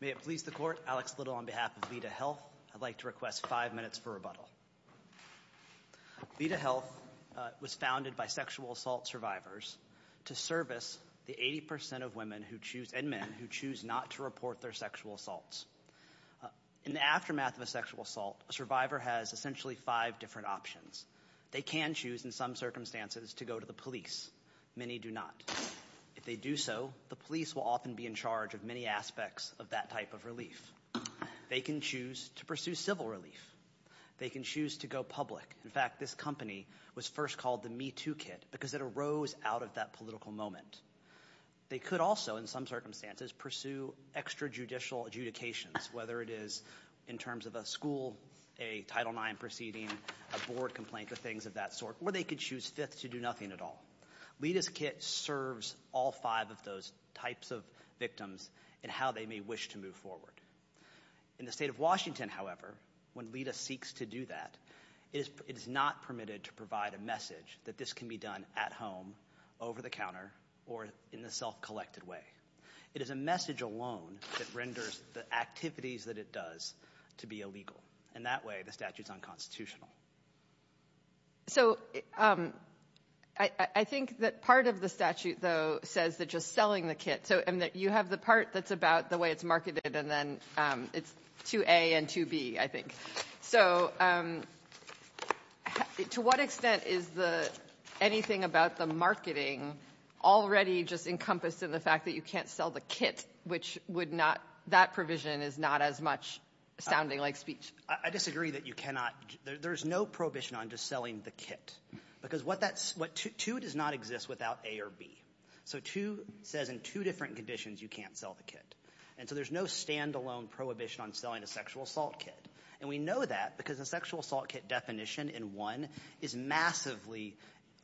May it please the court, Alex Little on behalf of Leda Health, I'd like to request five minutes for rebuttal. Leda Health was founded by sexual assault survivors to service the 80% of women and men who choose not to report their sexual assaults. In the aftermath of a sexual assault, a survivor has essentially five different options. They can choose, in some circumstances, to go to the police. Many do not. If they do so, the police will often be in charge of many aspects of that type of relief. They can choose to pursue civil relief. They can choose to go public. In fact, this company was first called the Me Too Kit because it arose out of that political moment. They could also, in some circumstances, pursue extrajudicial adjudications, whether it is in terms of a school, a Title IX proceeding, a board complaint, things of that sort. Or they could choose fifth to do nothing at all. Leda's kit serves all five of those types of victims and how they may wish to move forward. In the state of Washington, however, when Leda seeks to do that, it is not permitted to provide a message that this can be done at home, over the counter, or in the self-collected way. It is a message alone that renders the activities that it does to be illegal. In that way, the statute is unconstitutional. So I think that part of the statute, though, says that just selling the kit. So you have the part that's about the way it's marketed, and then it's 2A and 2B, I think. So to what extent is the anything about the marketing already just encompassed in the fact that you can't sell the kit, which would not that provision is not as much sounding like speech? I disagree that you cannot. There's no prohibition on just selling the kit because 2 does not exist without A or B. So 2 says in two different conditions you can't sell the kit. And so there's no standalone prohibition on selling a sexual assault kit. And we know that because the sexual assault kit definition in 1 is massively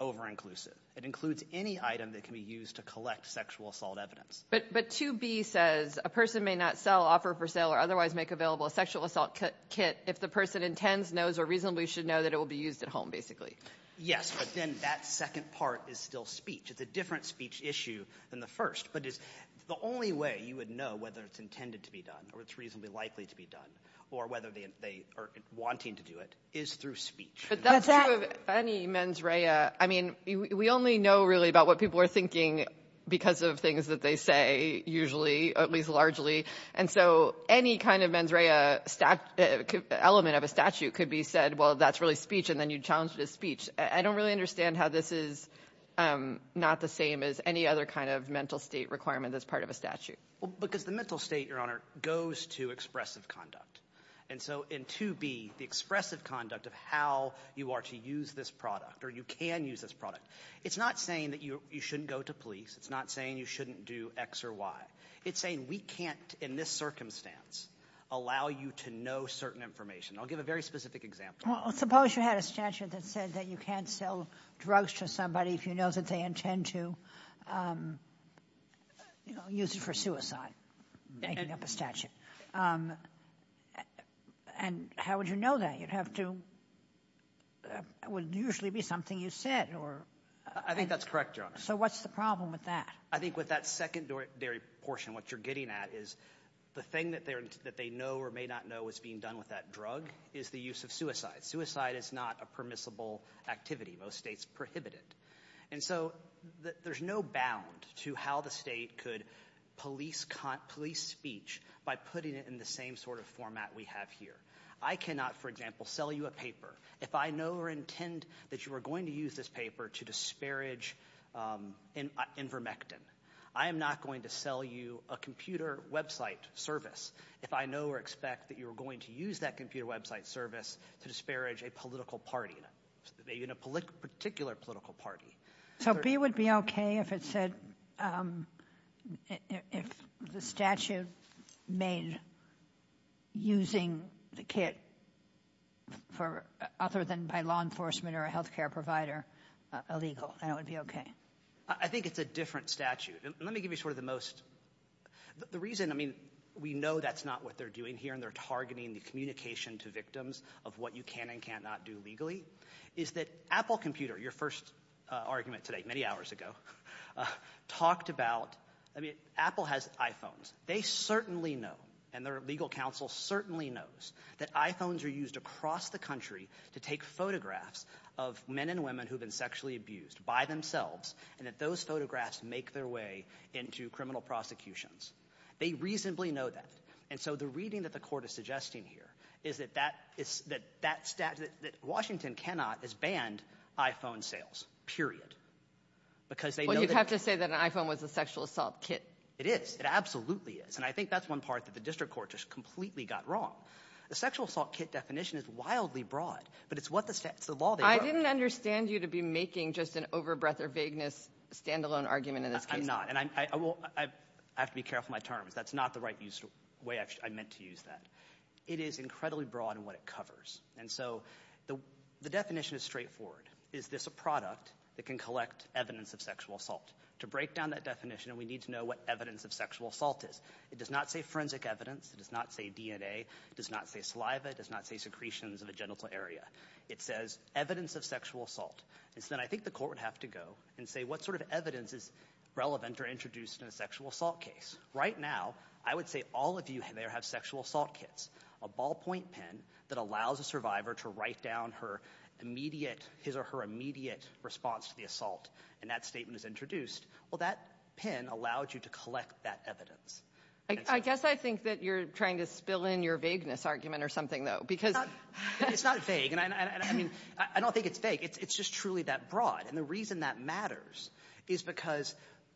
over-inclusive. It includes any item that can be used to collect sexual assault evidence. But 2B says a person may not sell, offer for sale, or otherwise make available a sexual assault kit if the person intends, knows, or reasonably should know that it will be used at home, basically. Yes, but then that second part is still speech. It's a different speech issue than the first. But the only way you would know whether it's intended to be done or it's reasonably likely to be done or whether they are wanting to do it is through speech. But that's true of any mens rea. I mean we only know really about what people are thinking because of things that they say usually, at least largely. And so any kind of mens rea element of a statute could be said, well, that's really speech, and then you challenge it as speech. I don't really understand how this is not the same as any other kind of mental state requirement that's part of a statute. Well, because the mental state, Your Honor, goes to expressive conduct. And so in 2B, the expressive conduct of how you are to use this product or you can use this product, it's not saying that you shouldn't go to police. It's not saying you shouldn't do X or Y. It's saying we can't in this circumstance allow you to know certain information. I'll give a very specific example. Well, suppose you had a statute that said that you can't sell drugs to somebody if you know that they intend to use it for suicide. Making up a statute. And how would you know that? It would usually be something you said. I think that's correct, Your Honor. So what's the problem with that? I think with that secondary portion, what you're getting at is the thing that they know or may not know is being done with that drug is the use of suicide. Suicide is not a permissible activity. Most states prohibit it. And so there's no bound to how the state could police speech by putting it in the same sort of format we have here. I cannot, for example, sell you a paper if I know or intend that you are going to use this paper to disparage Invermectin. I am not going to sell you a computer website service if I know or expect that you are going to use that computer website service to disparage a political party, maybe in a particular political party. So B would be okay if it said if the statute made using the kit for other than by law enforcement or a health care provider illegal, and it would be okay? I think it's a different statute. And let me give you sort of the most – the reason, I mean, we know that's not what they're doing here, and they're targeting the communication to victims of what you can and cannot do legally, is that Apple computer, your first argument today, many hours ago, talked about – I mean, Apple has iPhones. They certainly know, and their legal counsel certainly knows, that iPhones are used across the country to take photographs of men and women who have been sexually abused by themselves and that those photographs make their way into criminal prosecutions. They reasonably know that. And so the reading that the court is suggesting here is that that statute – that Washington cannot is banned iPhone sales, period, because they know that – Well, you'd have to say that an iPhone was a sexual assault kit. It is. It absolutely is. And I think that's one part that the district court just completely got wrong. The sexual assault kit definition is wildly broad, but it's what the – it's the law they broke. I didn't understand you to be making just an over-breath or vagueness standalone argument in this case. I'm not. And I will – I have to be careful with my terms. That's not the right way I meant to use that. It is incredibly broad in what it covers. And so the definition is straightforward. Is this a product that can collect evidence of sexual assault? To break down that definition, we need to know what evidence of sexual assault is. It does not say forensic evidence. It does not say DNA. It does not say saliva. It does not say secretions of a genital area. It says evidence of sexual assault. And so then I think the court would have to go and say what sort of evidence is relevant or introduced in a sexual assault case. Right now, I would say all of you there have sexual assault kits, a ballpoint pen that allows a survivor to write down her immediate – his or her immediate response to the assault. And that statement is introduced. Well, that pen allowed you to collect that evidence. I guess I think that you're trying to spill in your vagueness argument or something, though, because – It's not vague. And, I mean, I don't think it's vague. It's just truly that broad. And the reason that matters is because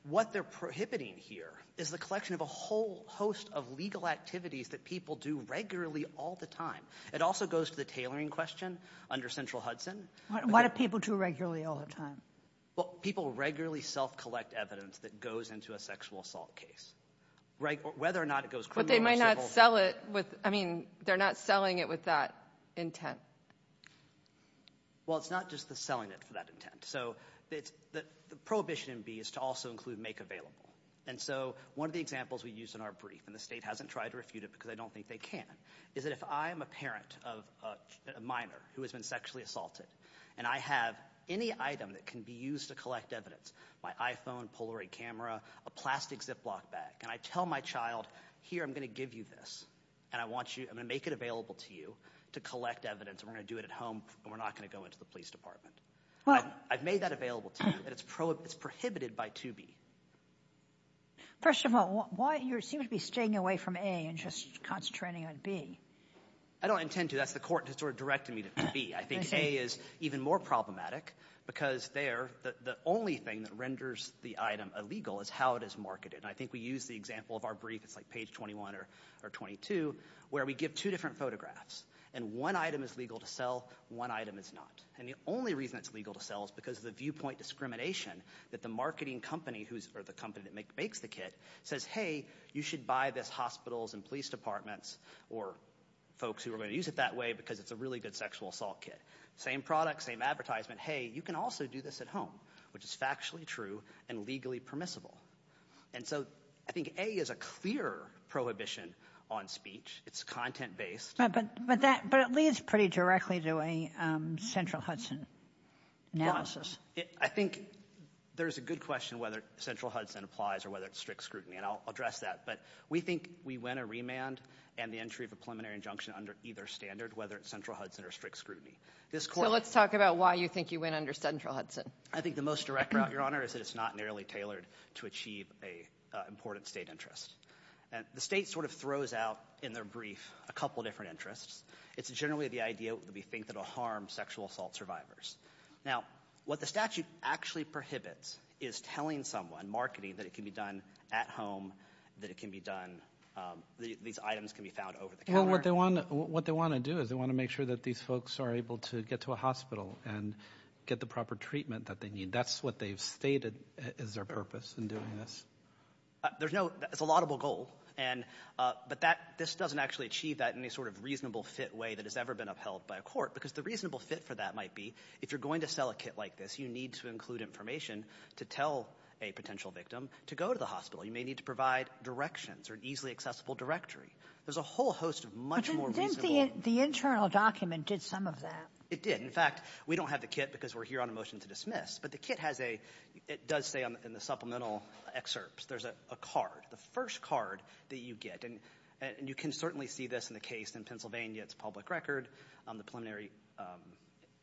what they're prohibiting here is the collection of a whole host of legal activities that people do regularly all the time. It also goes to the tailoring question under Central Hudson. Why do people do it regularly all the time? Well, people regularly self-collect evidence that goes into a sexual assault case, whether or not it goes criminal or civil. But they might not sell it with – I mean they're not selling it with that intent. Well, it's not just the selling it for that intent. So the prohibition in B is to also include make available. And so one of the examples we used in our brief, and the state hasn't tried to refute it because I don't think they can, is that if I'm a parent of a minor who has been sexually assaulted, and I have any item that can be used to collect evidence, my iPhone, Polaroid camera, a plastic Ziploc bag, and I tell my child, here, I'm going to give you this, and I want you – I'm going to make it available to you to collect evidence. We're going to do it at home, and we're not going to go into the police department. I've made that available to you, and it's prohibited by 2B. First of all, why – you seem to be staying away from A and just concentrating on B. I don't intend to. That's the court that sort of directed me to B. I think A is even more problematic because there the only thing that renders the item illegal is how it is marketed. And I think we use the example of our brief – it's like page 21 or 22 – where we give two different photographs, and one item is legal to sell, one item is not. And the only reason it's legal to sell is because of the viewpoint discrimination that the marketing company who's – or the company that makes the kit says, hey, you should buy this hospitals and police departments or folks who are going to use it that way because it's a really good sexual assault kit. Same product, same advertisement. Hey, you can also do this at home, which is factually true and legally permissible. And so I think A is a clear prohibition on speech. It's content-based. But it leads pretty directly to a Central Hudson analysis. I think there's a good question whether Central Hudson applies or whether it's strict scrutiny, and I'll address that. But we think we win a remand and the entry of a preliminary injunction under either standard, whether it's Central Hudson or strict scrutiny. So let's talk about why you think you win under Central Hudson. I think the most direct route, Your Honor, is that it's not nearly tailored to achieve an important state interest. The state sort of throws out in their brief a couple of different interests. It's generally the idea that we think that it will harm sexual assault survivors. Now, what the statute actually prohibits is telling someone, marketing, that it can be done at home, that it can be done – these items can be found over the counter. But what they want to do is they want to make sure that these folks are able to get to a hospital and get the proper treatment that they need. That's what they've stated is their purpose in doing this. There's no – it's a laudable goal, but this doesn't actually achieve that in any sort of reasonable fit way that has ever been upheld by a court because the reasonable fit for that might be if you're going to sell a kit like this, you need to include information to tell a potential victim to go to the hospital. You may need to provide directions or an easily accessible directory. There's a whole host of much more reasonable – But didn't the internal document did some of that? It did. In fact, we don't have the kit because we're here on a motion to dismiss, but the kit has a – it does say in the supplemental excerpts there's a card, the first card that you get. And you can certainly see this in the case in Pennsylvania. It's a public record on the preliminary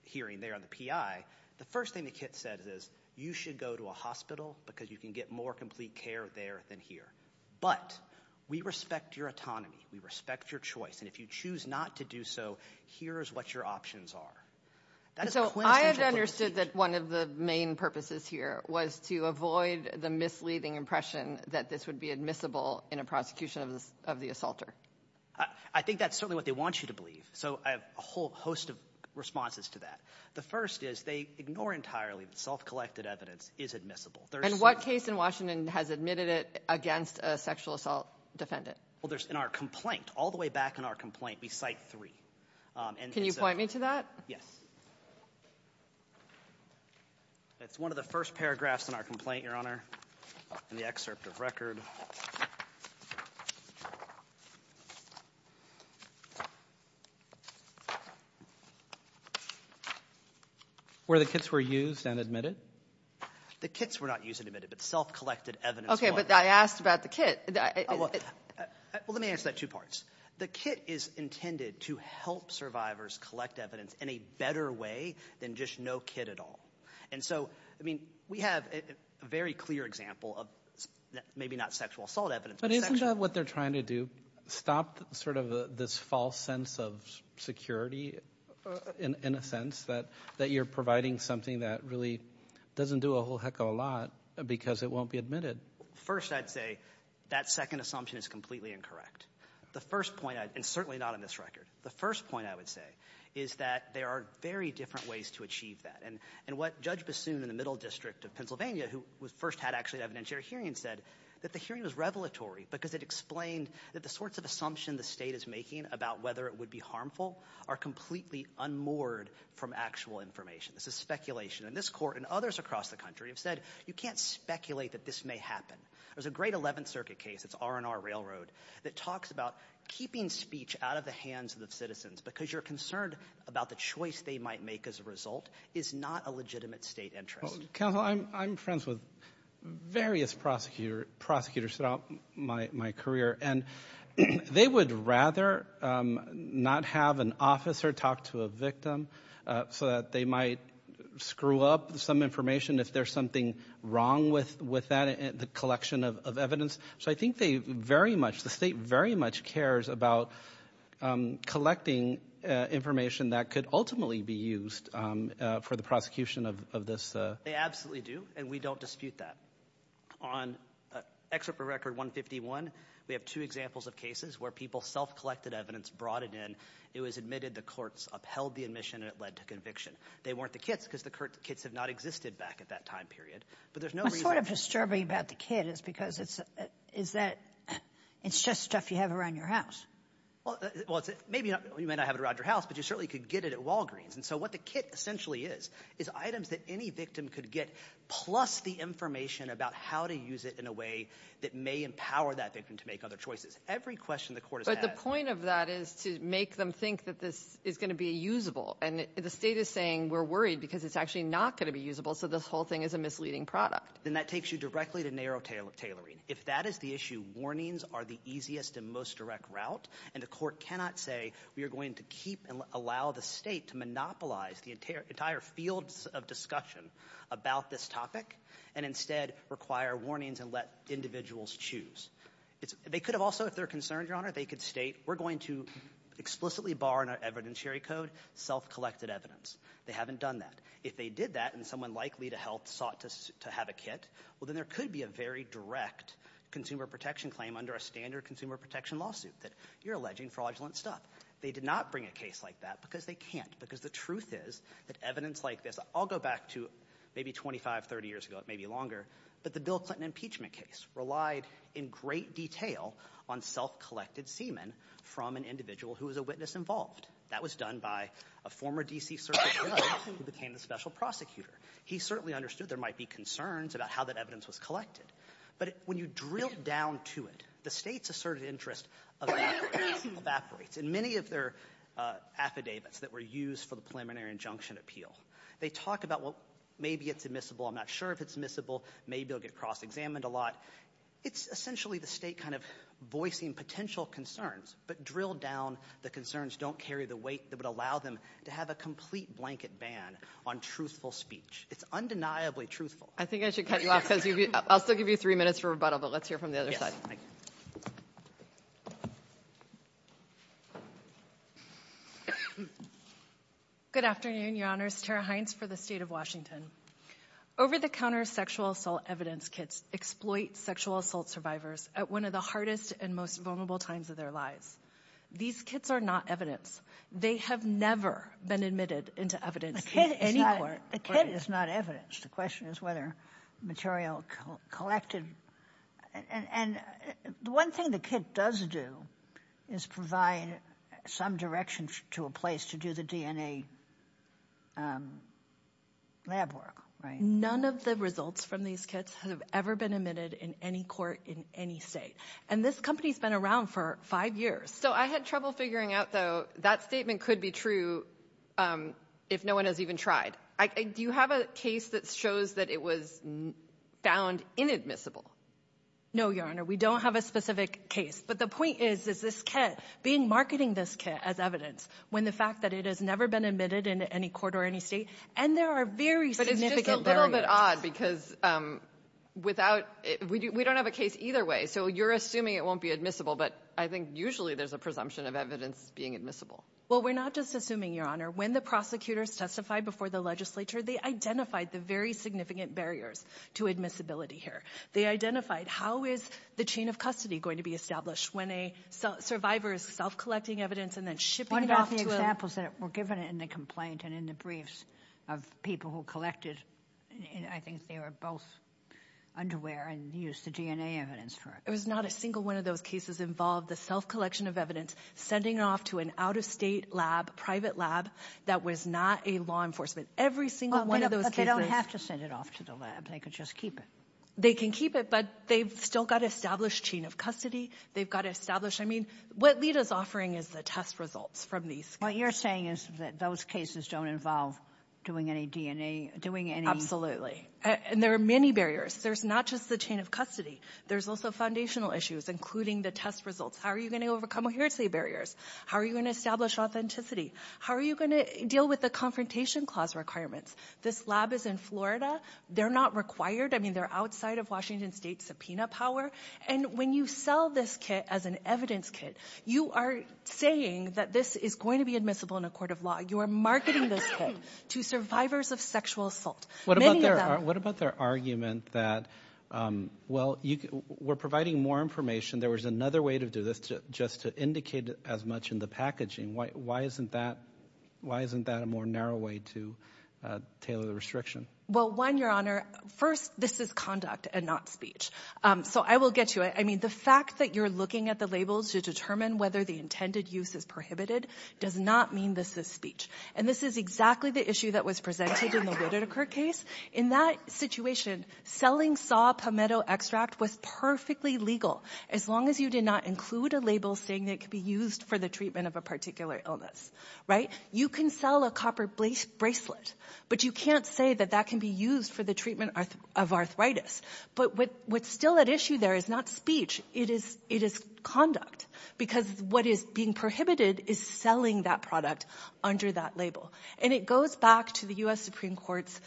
hearing there on the PI. The first thing the kit says is you should go to a hospital because you can get more complete care there than here. But we respect your autonomy. We respect your choice. And if you choose not to do so, here is what your options are. So I had understood that one of the main purposes here was to avoid the misleading impression that this would be admissible in a prosecution of the assaulter. I think that's certainly what they want you to believe. So I have a whole host of responses to that. The first is they ignore entirely that self-collected evidence is admissible. And what case in Washington has admitted it against a sexual assault defendant? Well, there's – in our complaint, all the way back in our complaint, we cite three. Can you point me to that? Yes. It's one of the first paragraphs in our complaint, Your Honor, in the excerpt of record. Where the kits were used and admitted? The kits were not used and admitted, but self-collected evidence was. Okay, but I asked about the kit. Well, let me answer that in two parts. The kit is intended to help survivors collect evidence in a better way than just no kit at all. And so, I mean, we have a very clear example of maybe not sexual assault evidence. But isn't that what they're trying to do, stop sort of this false sense of security, in a sense, that you're providing something that really doesn't do a whole heck of a lot because it won't be admitted? First, I'd say that second assumption is completely incorrect. The first point – and certainly not in this record. The first point I would say is that there are very different ways to achieve that. And what Judge Bassoon in the Middle District of Pennsylvania, who first had actually an evidentiary hearing, said that the hearing was revelatory because it explained that the sorts of assumptions the state is making about whether it would be harmful are completely unmoored from actual information. This is speculation. And this Court and others across the country have said you can't speculate that this may happen. There's a great 11th Circuit case, it's R&R Railroad, that talks about keeping speech out of the hands of the citizens because you're concerned about the choice they might make as a result is not a legitimate state interest. Counsel, I'm friends with various prosecutors throughout my career. And they would rather not have an officer talk to a victim so that they might screw up some information if there's something wrong with that, the collection of evidence. So I think they very much, the state very much cares about collecting information that could ultimately be used for the prosecution of this. They absolutely do, and we don't dispute that. On Excerpt from Record 151, we have two examples of cases where people self-collected evidence, brought it in. It was admitted. The courts upheld the admission, and it led to conviction. They weren't the kits because the kits had not existed back at that time period. But there's no reason – What's sort of disturbing about the kit is because it's that it's just stuff you have around your house. Well, maybe you might not have it around your house, but you certainly could get it at Walgreens. And so what the kit essentially is is items that any victim could get plus the information about how to use it in a way that may empower that victim to make other choices. Every question the court has had – But the point of that is to make them think that this is going to be usable. And the state is saying we're worried because it's actually not going to be usable, so this whole thing is a misleading product. Then that takes you directly to narrow tailoring. If that is the issue, warnings are the easiest and most direct route, and the court cannot say we are going to keep and allow the state to monopolize the entire fields of discussion about this topic and instead require warnings and let individuals choose. They could have also, if they're concerned, Your Honor, they could state we're going to explicitly bar in our evidentiary code self-collected evidence. They haven't done that. If they did that and someone likely to help sought to have a kit, well, then there could be a very direct consumer protection claim under a standard consumer protection lawsuit that you're alleging fraudulent stuff. They did not bring a case like that because they can't, because the truth is that evidence like this – I'll go back to maybe 25, 30 years ago, it may be longer, but the Bill Clinton impeachment case relied in great detail on self-collected semen from an individual who was a witness involved. That was done by a former D.C. Circuit judge who became the special prosecutor. He certainly understood there might be concerns about how that evidence was collected. But when you drill down to it, the State's asserted interest evaporates. And many of their affidavits that were used for the preliminary injunction appeal, they talk about, well, maybe it's admissible. I'm not sure if it's admissible. Maybe they'll get cross-examined a lot. It's essentially the State kind of voicing potential concerns, but drilled down the concerns don't carry the weight that would allow them to have a complete blanket ban on truthful speech. It's undeniably truthful. I think I should cut you off because I'll still give you three minutes for rebuttal, but let's hear from the other side. Good afternoon, Your Honors. Tara Hines for the State of Washington. Over-the-counter sexual assault evidence kits exploit sexual assault survivors at one of the hardest and most vulnerable times of their lives. These kits are not evidence. They have never been admitted into evidence. A kit is not evidence. The question is whether material collected. And one thing the kit does do is provide some direction to a place to do the DNA lab work. None of the results from these kits have ever been admitted in any court in any state. And this company has been around for five years. So I had trouble figuring out, though, that statement could be true if no one has even tried. Do you have a case that shows that it was found inadmissible? No, Your Honor. We don't have a specific case. But the point is, is this kit, being marketing this kit as evidence, when the fact that it has never been admitted into any court or any state, and there are very significant barriers. But it's just a little bit odd because without – we don't have a case either way. So you're assuming it won't be admissible, but I think usually there's a presumption of evidence being admissible. Well, we're not just assuming, Your Honor. When the prosecutors testified before the legislature, they identified the very significant barriers to admissibility here. They identified how is the chain of custody going to be established when a survivor is self-collecting evidence and then shipping it off to a – One of the examples that were given in the complaint and in the briefs of people who collected, I think they were both underwear and used the DNA evidence for it. It was not a single one of those cases involved the self-collection of evidence, sending it off to an out-of-state lab, private lab, that was not a law enforcement. Every single one of those cases – But they don't have to send it off to the lab. They could just keep it. They can keep it, but they've still got established chain of custody. They've got established – I mean, what LITA's offering is the test results from these cases. What you're saying is that those cases don't involve doing any DNA, doing any – Absolutely. And there are many barriers. There's not just the chain of custody. There's also foundational issues, including the test results. How are you going to overcome adherency barriers? How are you going to establish authenticity? How are you going to deal with the confrontation clause requirements? This lab is in Florida. They're not required. I mean, they're outside of Washington State's subpoena power. And when you sell this kit as an evidence kit, you are saying that this is going to be admissible in a court of law. You are marketing this kit to survivors of sexual assault. What about their argument that, well, we're providing more information. There was another way to do this just to indicate as much in the packaging. Why isn't that a more narrow way to tailor the restriction? Well, one, Your Honor, first, this is conduct and not speech. So I will get to it. I mean, the fact that you're looking at the labels to determine whether the intended use is prohibited does not mean this is speech. And this is exactly the issue that was presented in the Whitaker case. In that situation, selling saw palmetto extract was perfectly legal as long as you did not include a label saying it could be used for the treatment of a particular illness. Right? You can sell a copper bracelet, but you can't say that that can be used for the treatment of arthritis. But what's still at issue there is not speech. It is conduct because what is being prohibited is selling that product under that label. And it goes back to the U.S. Supreme Court's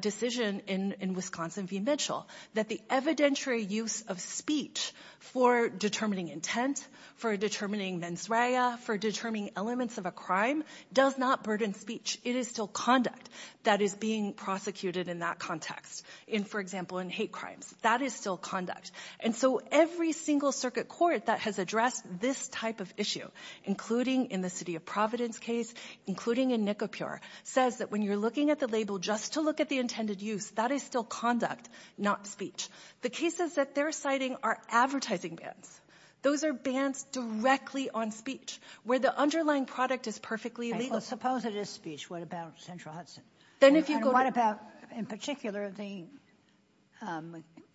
decision in Wisconsin v. Mitchell that the evidentiary use of speech for determining intent, for determining mens rea, for determining elements of a crime does not burden speech. It is still conduct that is being prosecuted in that context. In, for example, in hate crimes. That is still conduct. And so every single circuit court that has addressed this type of issue, including in the City of Providence case, including in Nicopure, says that when you're looking at the label just to look at the intended use, that is still conduct, not speech. The cases that they're citing are advertising bans. Those are bans directly on speech where the underlying product is perfectly legal. Suppose it is speech. What about Central Hudson? And what about in particular the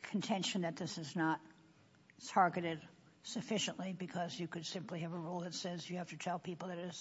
contention that this is not targeted sufficiently because you could simply have a rule that says you have to tell people that it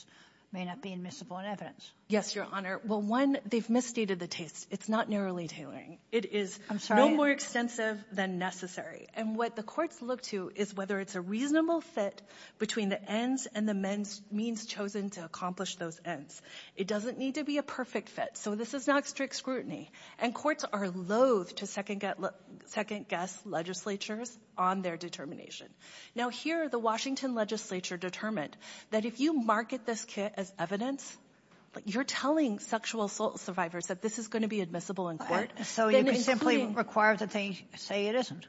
may not be admissible in evidence? Yes, Your Honor. Well, one, they've misstated the taste. It's not narrowly tailoring. It is no more extensive than necessary. And what the courts look to is whether it's a reasonable fit between the ends and the means chosen to accomplish those ends. It doesn't need to be a perfect fit. So this is not strict scrutiny. And courts are loathe to second-guess legislatures on their determination. Now, here the Washington legislature determined that if you market this kit as evidence, you're telling sexual assault survivors that this is going to be admissible in court. So you could simply require that they say it isn't.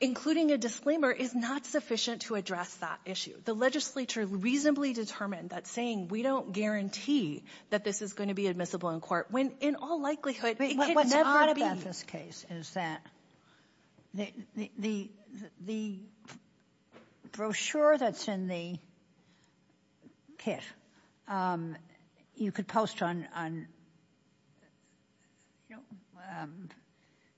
Including a disclaimer is not sufficient to address that issue. The legislature reasonably determined that saying we don't guarantee that this is going to be admissible in court when in all likelihood it could never be. The thing about this case is that the brochure that's in the kit, you could post on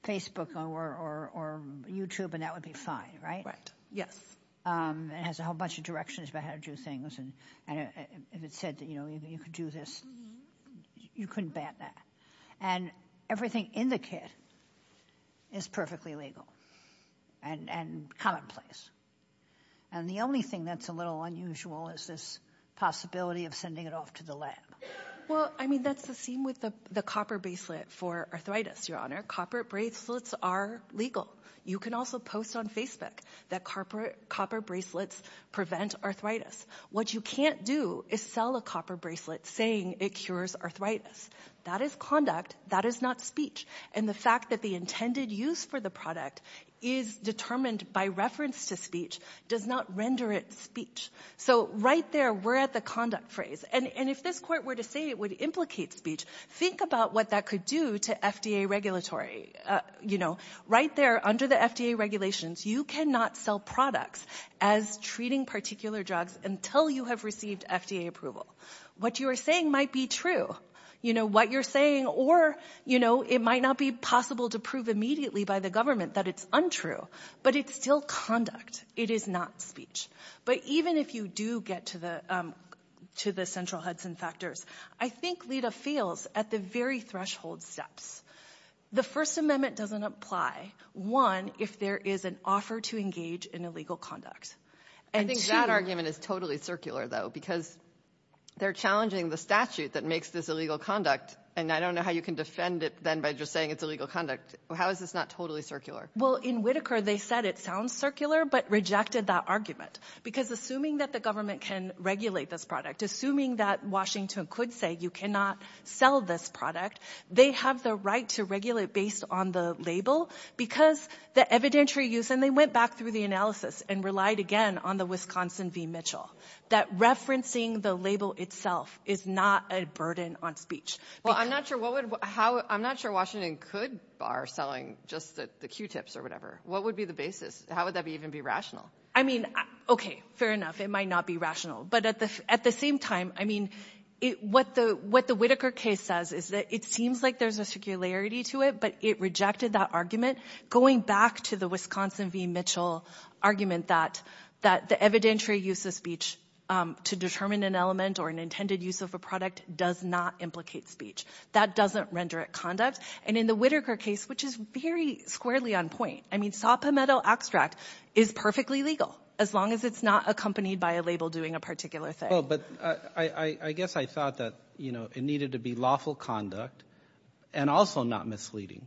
Facebook or YouTube and that would be fine, right? Right. Yes. It has a whole bunch of directions about how to do things. And if it said that you could do this, you couldn't bat that. And everything in the kit is perfectly legal and commonplace. And the only thing that's a little unusual is this possibility of sending it off to the lab. Well, I mean, that's the same with the copper bracelet for arthritis, Your Honor. Copper bracelets are legal. You can also post on Facebook that copper bracelets prevent arthritis. What you can't do is sell a copper bracelet saying it cures arthritis. That is conduct. That is not speech. And the fact that the intended use for the product is determined by reference to speech does not render it speech. So right there, we're at the conduct phrase. And if this court were to say it would implicate speech, think about what that could do to FDA regulatory. You know, right there under the FDA regulations, you cannot sell products as treating particular drugs until you have received FDA approval. What you are saying might be true. You know, what you're saying or, you know, it might not be possible to prove immediately by the government that it's untrue. But it's still conduct. It is not speech. But even if you do get to the central Hudson factors, I think Lita fails at the very threshold steps. The First Amendment doesn't apply, one, if there is an offer to engage in illegal conduct. I think that argument is totally circular, though, because they're challenging the statute that makes this illegal conduct. And I don't know how you can defend it then by just saying it's illegal conduct. How is this not totally circular? Well, in Whitaker, they said it sounds circular but rejected that argument. Because assuming that the government can regulate this product, assuming that Washington could say you cannot sell this product, they have the right to regulate based on the label because the evidentiary use. And then they went back through the analysis and relied again on the Wisconsin v. Mitchell, that referencing the label itself is not a burden on speech. Well, I'm not sure what would – I'm not sure Washington could bar selling just the Q-tips or whatever. What would be the basis? How would that even be rational? I mean, okay, fair enough. It might not be rational. But at the same time, I mean, what the Whitaker case says is that it seems like there's a circularity to it, but it rejected that argument, going back to the Wisconsin v. Mitchell argument that the evidentiary use of speech to determine an element or an intended use of a product does not implicate speech. That doesn't render it conduct. And in the Whitaker case, which is very squarely on point, I mean, saw palmetto extract is perfectly legal as long as it's not accompanied by a label doing a particular thing. No, but I guess I thought that it needed to be lawful conduct and also not misleading.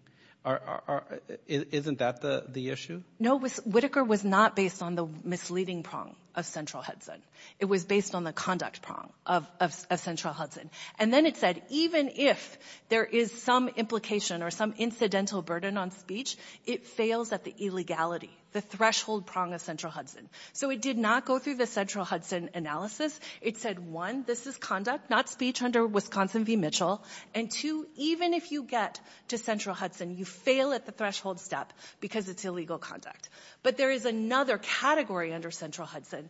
Isn't that the issue? No, Whitaker was not based on the misleading prong of central Hudson. It was based on the conduct prong of central Hudson. And then it said even if there is some implication or some incidental burden on speech, it fails at the illegality, the threshold prong of central Hudson. So it did not go through the central Hudson analysis. It said, one, this is conduct, not speech under Wisconsin v. Mitchell. And, two, even if you get to central Hudson, you fail at the threshold step because it's illegal conduct. But there is another category under central Hudson.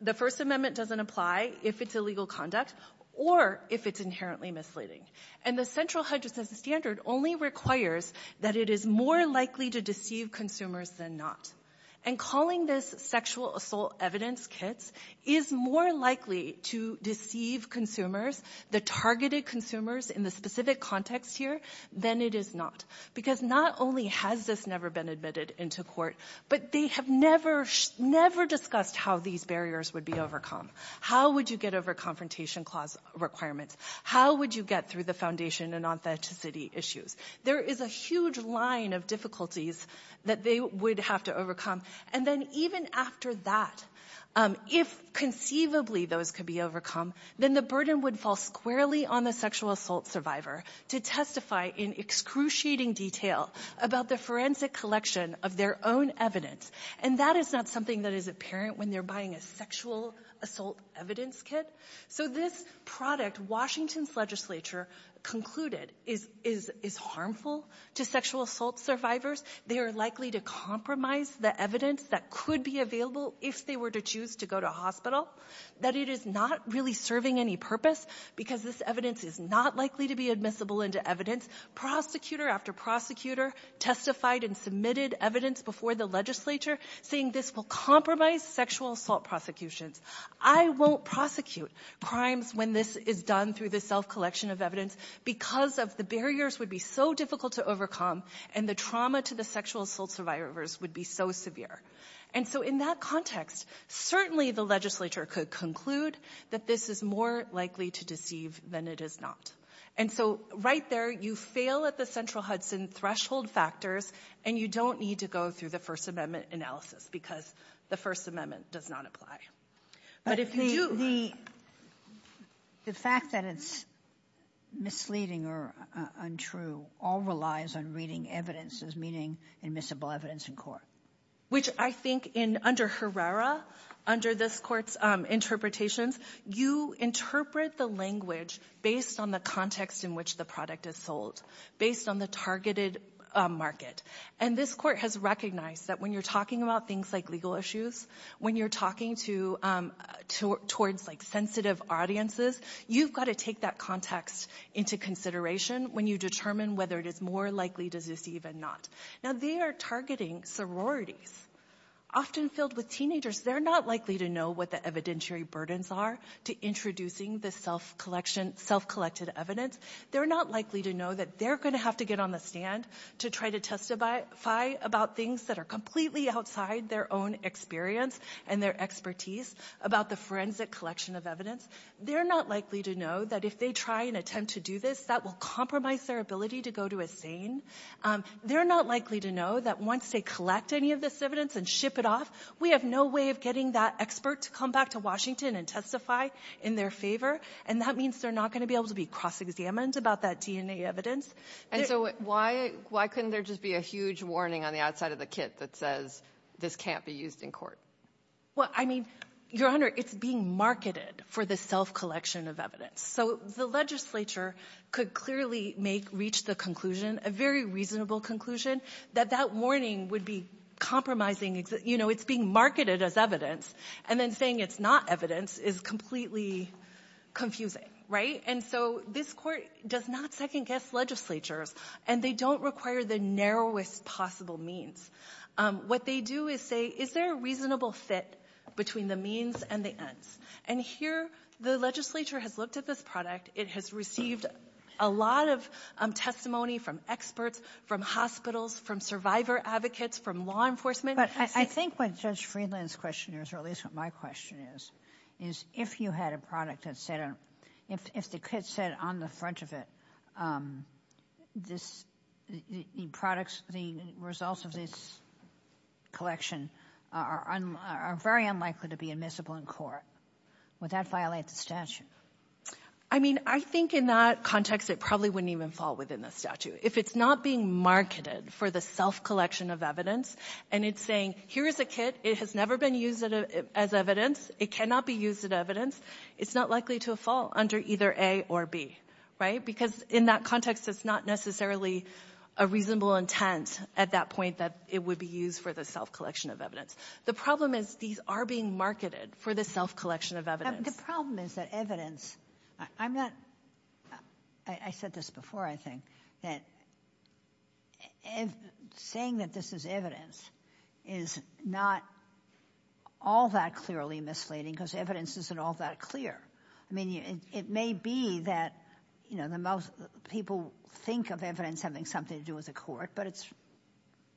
The First Amendment doesn't apply if it's illegal conduct or if it's inherently misleading. And the central Hudson standard only requires that it is more likely to deceive consumers than not. And calling this sexual assault evidence kits is more likely to deceive consumers, the targeted consumers in the specific context here, than it is not. Because not only has this never been admitted into court, but they have never discussed how these barriers would be overcome. How would you get over confrontation clause requirements? How would you get through the foundation and authenticity issues? There is a huge line of difficulties that they would have to overcome. And then even after that, if conceivably those could be overcome, then the burden would fall squarely on the sexual assault survivor to testify in excruciating detail about the forensic collection of their own evidence. And that is not something that is apparent when they're buying a sexual assault evidence kit. So this product Washington's legislature concluded is harmful to sexual assault survivors. They are likely to compromise the evidence that could be available if they were to choose to go to hospital. That it is not really serving any purpose because this evidence is not likely to be admissible into evidence. Prosecutor after prosecutor testified and submitted evidence before the legislature saying this will compromise sexual assault prosecutions. I won't prosecute crimes when this is done through the self-collection of evidence because of the barriers would be so difficult to overcome and the trauma to the sexual assault survivors would be so severe. And so in that context, certainly the legislature could conclude that this is more likely to deceive than it is not. And so right there, you fail at the central Hudson threshold factors and you don't need to go through the First Amendment analysis because the First Amendment does not apply. But if you do the fact that it's misleading or untrue all relies on reading evidence as meaning admissible evidence in court. Which I think in under Herrera, under this Court's interpretations, you interpret the language based on the context in which the product is sold, based on the targeted market. And this Court has recognized that when you're talking about things like legal issues, when you're talking towards sensitive audiences, you've got to take that context into consideration when you determine whether it is more likely to deceive than not. Now they are targeting sororities. Often filled with teenagers, they're not likely to know what the evidentiary burdens are to introducing the self-collected evidence. They're not likely to know that they're going to have to get on the stand to try to testify about things that are completely outside their own experience and their expertise about the forensic collection of evidence. They're not likely to know that if they try and attempt to do this, that will compromise their ability to go to a scene. They're not likely to know that once they collect any of this evidence and ship it off, we have no way of getting that expert to come back to Washington and testify in their favor. And that means they're not going to be able to be cross-examined about that DNA evidence. And so why couldn't there just be a huge warning on the outside of the kit that says, this can't be used in court? Well, I mean, Your Honor, it's being marketed for the self-collection of evidence. So the legislature could clearly make, reach the conclusion, a very reasonable conclusion, that that warning would be compromising. You know, it's being marketed as evidence. And then saying it's not evidence is completely confusing, right? And so this Court does not second-guess legislatures, and they don't require the narrowest possible means. What they do is say, is there a reasonable fit between the means and the ends? And here, the legislature has looked at this product. It has received a lot of testimony from experts, from hospitals, from survivor advocates, from law enforcement. But I think what Judge Friedland's question is, or at least what my question is, is if you had a product that said, if the kit said on the front of it, the products, the results of this collection are very unlikely to be admissible in court. Would that violate the statute? I mean, I think in that context, it probably wouldn't even fall within the statute. If it's not being marketed for the self-collection of evidence, and it's saying, here is a kit. It has never been used as evidence. It cannot be used as evidence. It's not likely to fall under either A or B, right? Because in that context, it's not necessarily a reasonable intent at that point that it would be used for the self-collection of evidence. The problem is these are being marketed for the self-collection of evidence. The problem is that evidence, I said this before, I think, that saying that this is evidence is not all that clearly misleading because evidence isn't all that clear. I mean, it may be that people think of evidence having something to do with the court, but it's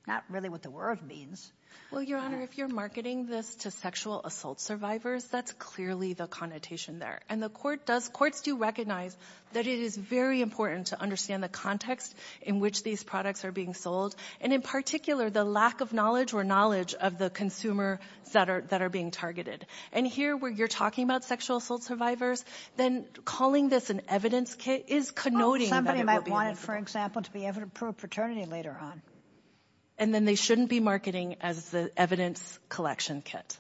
not really what the word means. Well, Your Honor, if you're marketing this to sexual assault survivors, that's clearly the connotation there. And the court does, courts do recognize that it is very important to understand the context in which these products are being sold, and in particular the lack of knowledge or knowledge of the consumers that are being targeted. And here where you're talking about sexual assault survivors, then calling this an evidence kit is connoting that it would be an evidence kit. Somebody might want it, for example, to be evidence for a paternity later on. And then they shouldn't be marketing as the evidence collection kit.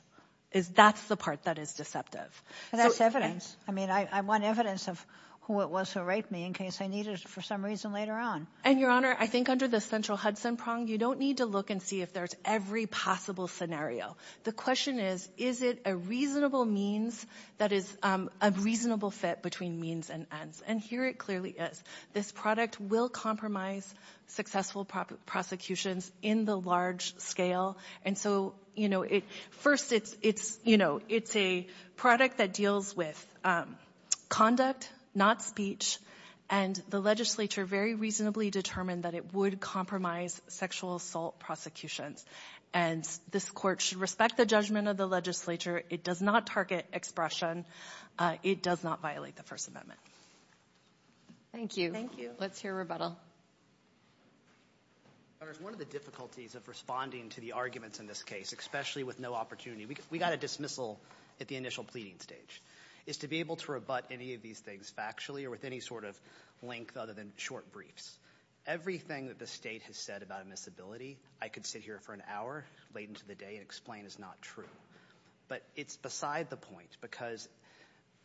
That's the part that is deceptive. That's evidence. I mean, I want evidence of who it was who raped me in case I need it for some reason later on. And, Your Honor, I think under the central Hudson prong, you don't need to look and see if there's every possible scenario. The question is, is it a reasonable means that is a reasonable fit between means and ends? And here it clearly is. This product will compromise successful prosecutions in the large scale. And so, you know, first it's, you know, it's a product that deals with conduct, not speech. And the legislature very reasonably determined that it would compromise sexual assault prosecutions. And this Court should respect the judgment of the legislature. It does not target expression. It does not violate the First Amendment. Thank you. Thank you. Let's hear rebuttal. Your Honors, one of the difficulties of responding to the arguments in this case, especially with no opportunity, we got a dismissal at the initial pleading stage, is to be able to rebut any of these things factually or with any sort of length other than short briefs. Everything that the state has said about admissibility, I could sit here for an hour late into the day and explain is not true. But it's beside the point because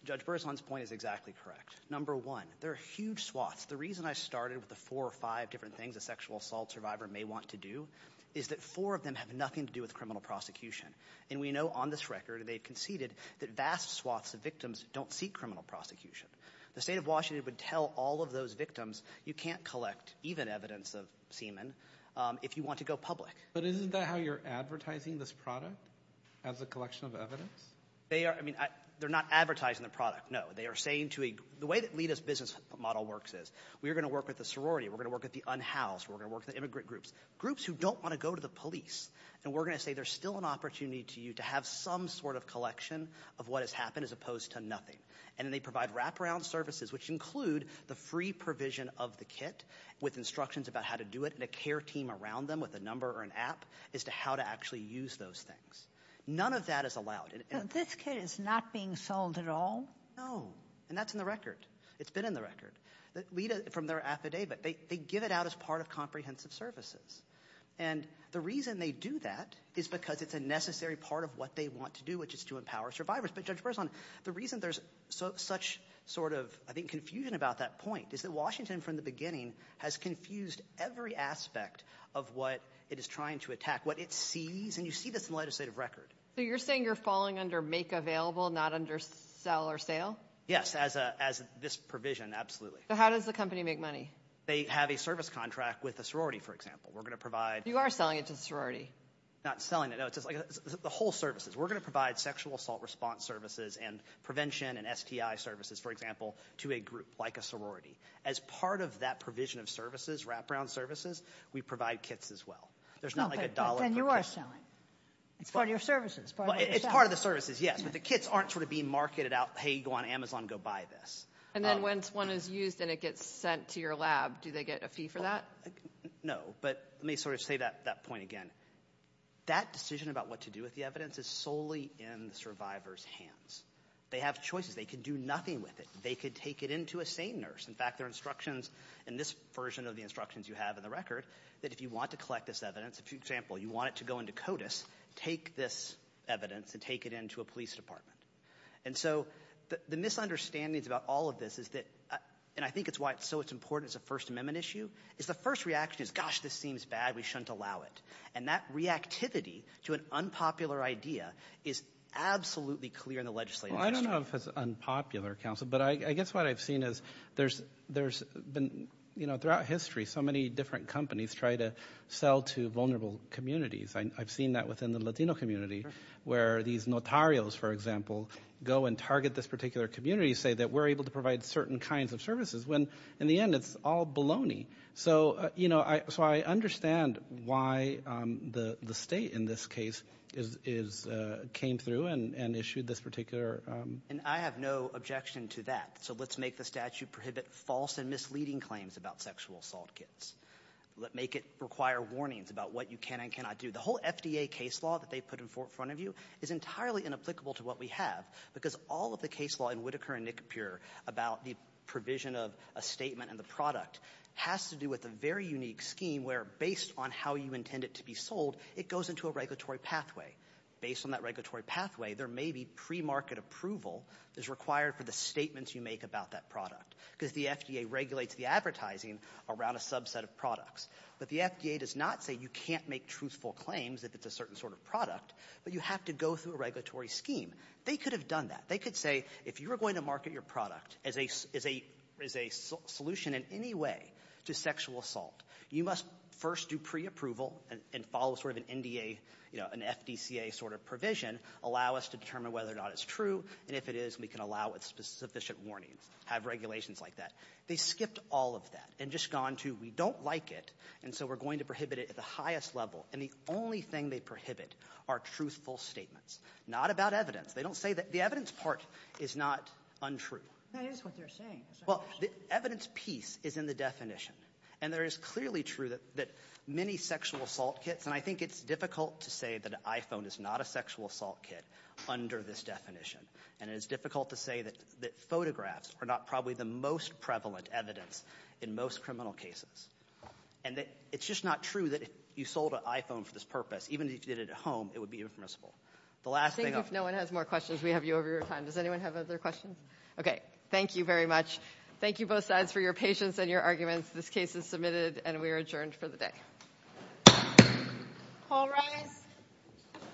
Judge Berzon's point is exactly correct. Number one, there are huge swaths. The reason I started with the four or five different things a sexual assault survivor may want to do is that four of them have nothing to do with criminal prosecution. And we know on this record, and they've conceded, that vast swaths of victims don't seek criminal prosecution. The state of Washington would tell all of those victims you can't collect even evidence of semen if you want to go public. But isn't that how you're advertising this product as a collection of evidence? They are. I mean, they're not advertising the product, no. The way that LITA's business model works is we're going to work with the sorority. We're going to work with the unhoused. We're going to work with the immigrant groups, groups who don't want to go to the police. And we're going to say there's still an opportunity to you to have some sort of collection of what has happened as opposed to nothing. And then they provide wraparound services, which include the free provision of the kit with instructions about how to do it and a care team around them with a number or an app as to how to actually use those things. None of that is allowed. This kit is not being sold at all? No. And that's in the record. It's been in the record. LITA, from their affidavit, they give it out as part of comprehensive services. And the reason they do that is because it's a necessary part of what they want to do, which is to empower survivors. But, Judge Berzon, the reason there's such sort of, I think, confusion about that point is that Washington from the beginning has confused every aspect of what it is trying to attack, what it sees. And you see this in the legislative record. So you're saying you're falling under make available, not under sell or sale? Yes, as this provision, absolutely. So how does the company make money? They have a service contract with a sorority, for example. We're going to provide- You are selling it to the sorority. Not selling it. No, it's just like the whole services. We're going to provide sexual assault response services and prevention and STI services, for example, to a group like a sorority. As part of that provision of services, wraparound services, we provide kits as well. There's not like a dollar- But then you are selling. It's part of your services. It's part of the services, yes. But the kits aren't sort of being marketed out, hey, go on Amazon, go buy this. And then once one is used and it gets sent to your lab, do they get a fee for that? No, but let me sort of say that point again. That decision about what to do with the evidence is solely in the survivor's hands. They have choices. They can do nothing with it. They could take it in to a SANE nurse. In fact, there are instructions in this version of the instructions you have in the record that if you want to collect this evidence, for example, you want it to go into CODIS, take this evidence and take it in to a police department. And so the misunderstandings about all of this is that, and I think it's why it's so important as a First Amendment issue, is the first reaction is, gosh, this seems bad. We shouldn't allow it. And that reactivity to an unpopular idea is absolutely clear in the legislative history. Well, I don't know if it's unpopular, counsel, but I guess what I've seen is there's been, you know, throughout history, so many different companies try to sell to vulnerable communities. I've seen that within the Latino community where these notarios, for example, go and target this particular community and say that we're able to provide certain kinds of services when in the end it's all baloney. So, you know, so I understand why the state in this case came through and issued this particular. And I have no objection to that. So let's make the statute prohibit false and misleading claims about sexual assault kits. Let's make it require warnings about what you can and cannot do. The whole FDA case law that they put in front of you is entirely inapplicable to what we have because all of the case law in Whitaker and Nicopure about the provision of a statement and the product has to do with a very unique scheme where based on how you intend it to be sold, it goes into a regulatory pathway. Based on that regulatory pathway, there may be pre-market approval that's required for the statements you make about that product because the FDA regulates the advertising around a subset of products. But the FDA does not say you can't make truthful claims if it's a certain sort of product, but you have to go through a regulatory scheme. They could have done that. They could say if you're going to market your product as a solution in any way to sexual assault, you must first do pre-approval and follow sort of an NDA, you know, an FDCA sort of provision, allow us to determine whether or not it's true, and if it is, we can allow it with sufficient warnings, have regulations like that. They skipped all of that and just gone to we don't like it, and so we're going to prohibit it at the highest level. And the only thing they prohibit are truthful statements, not about evidence. They don't say that the evidence part is not untrue. That is what they're saying. Well, the evidence piece is in the definition. And there is clearly true that many sexual assault kits, and I think it's difficult to say that an iPhone is not a sexual assault kit under this definition. And it's difficult to say that photographs are not probably the most prevalent evidence in most criminal cases. And it's just not true that if you sold an iPhone for this purpose, even if you did it at home, it would be impermissible. The last thing I'm going to say to you is that it's not true. Thank you both sides for your patience and your arguments. This case is submitted, and we are adjourned for the day. All rise.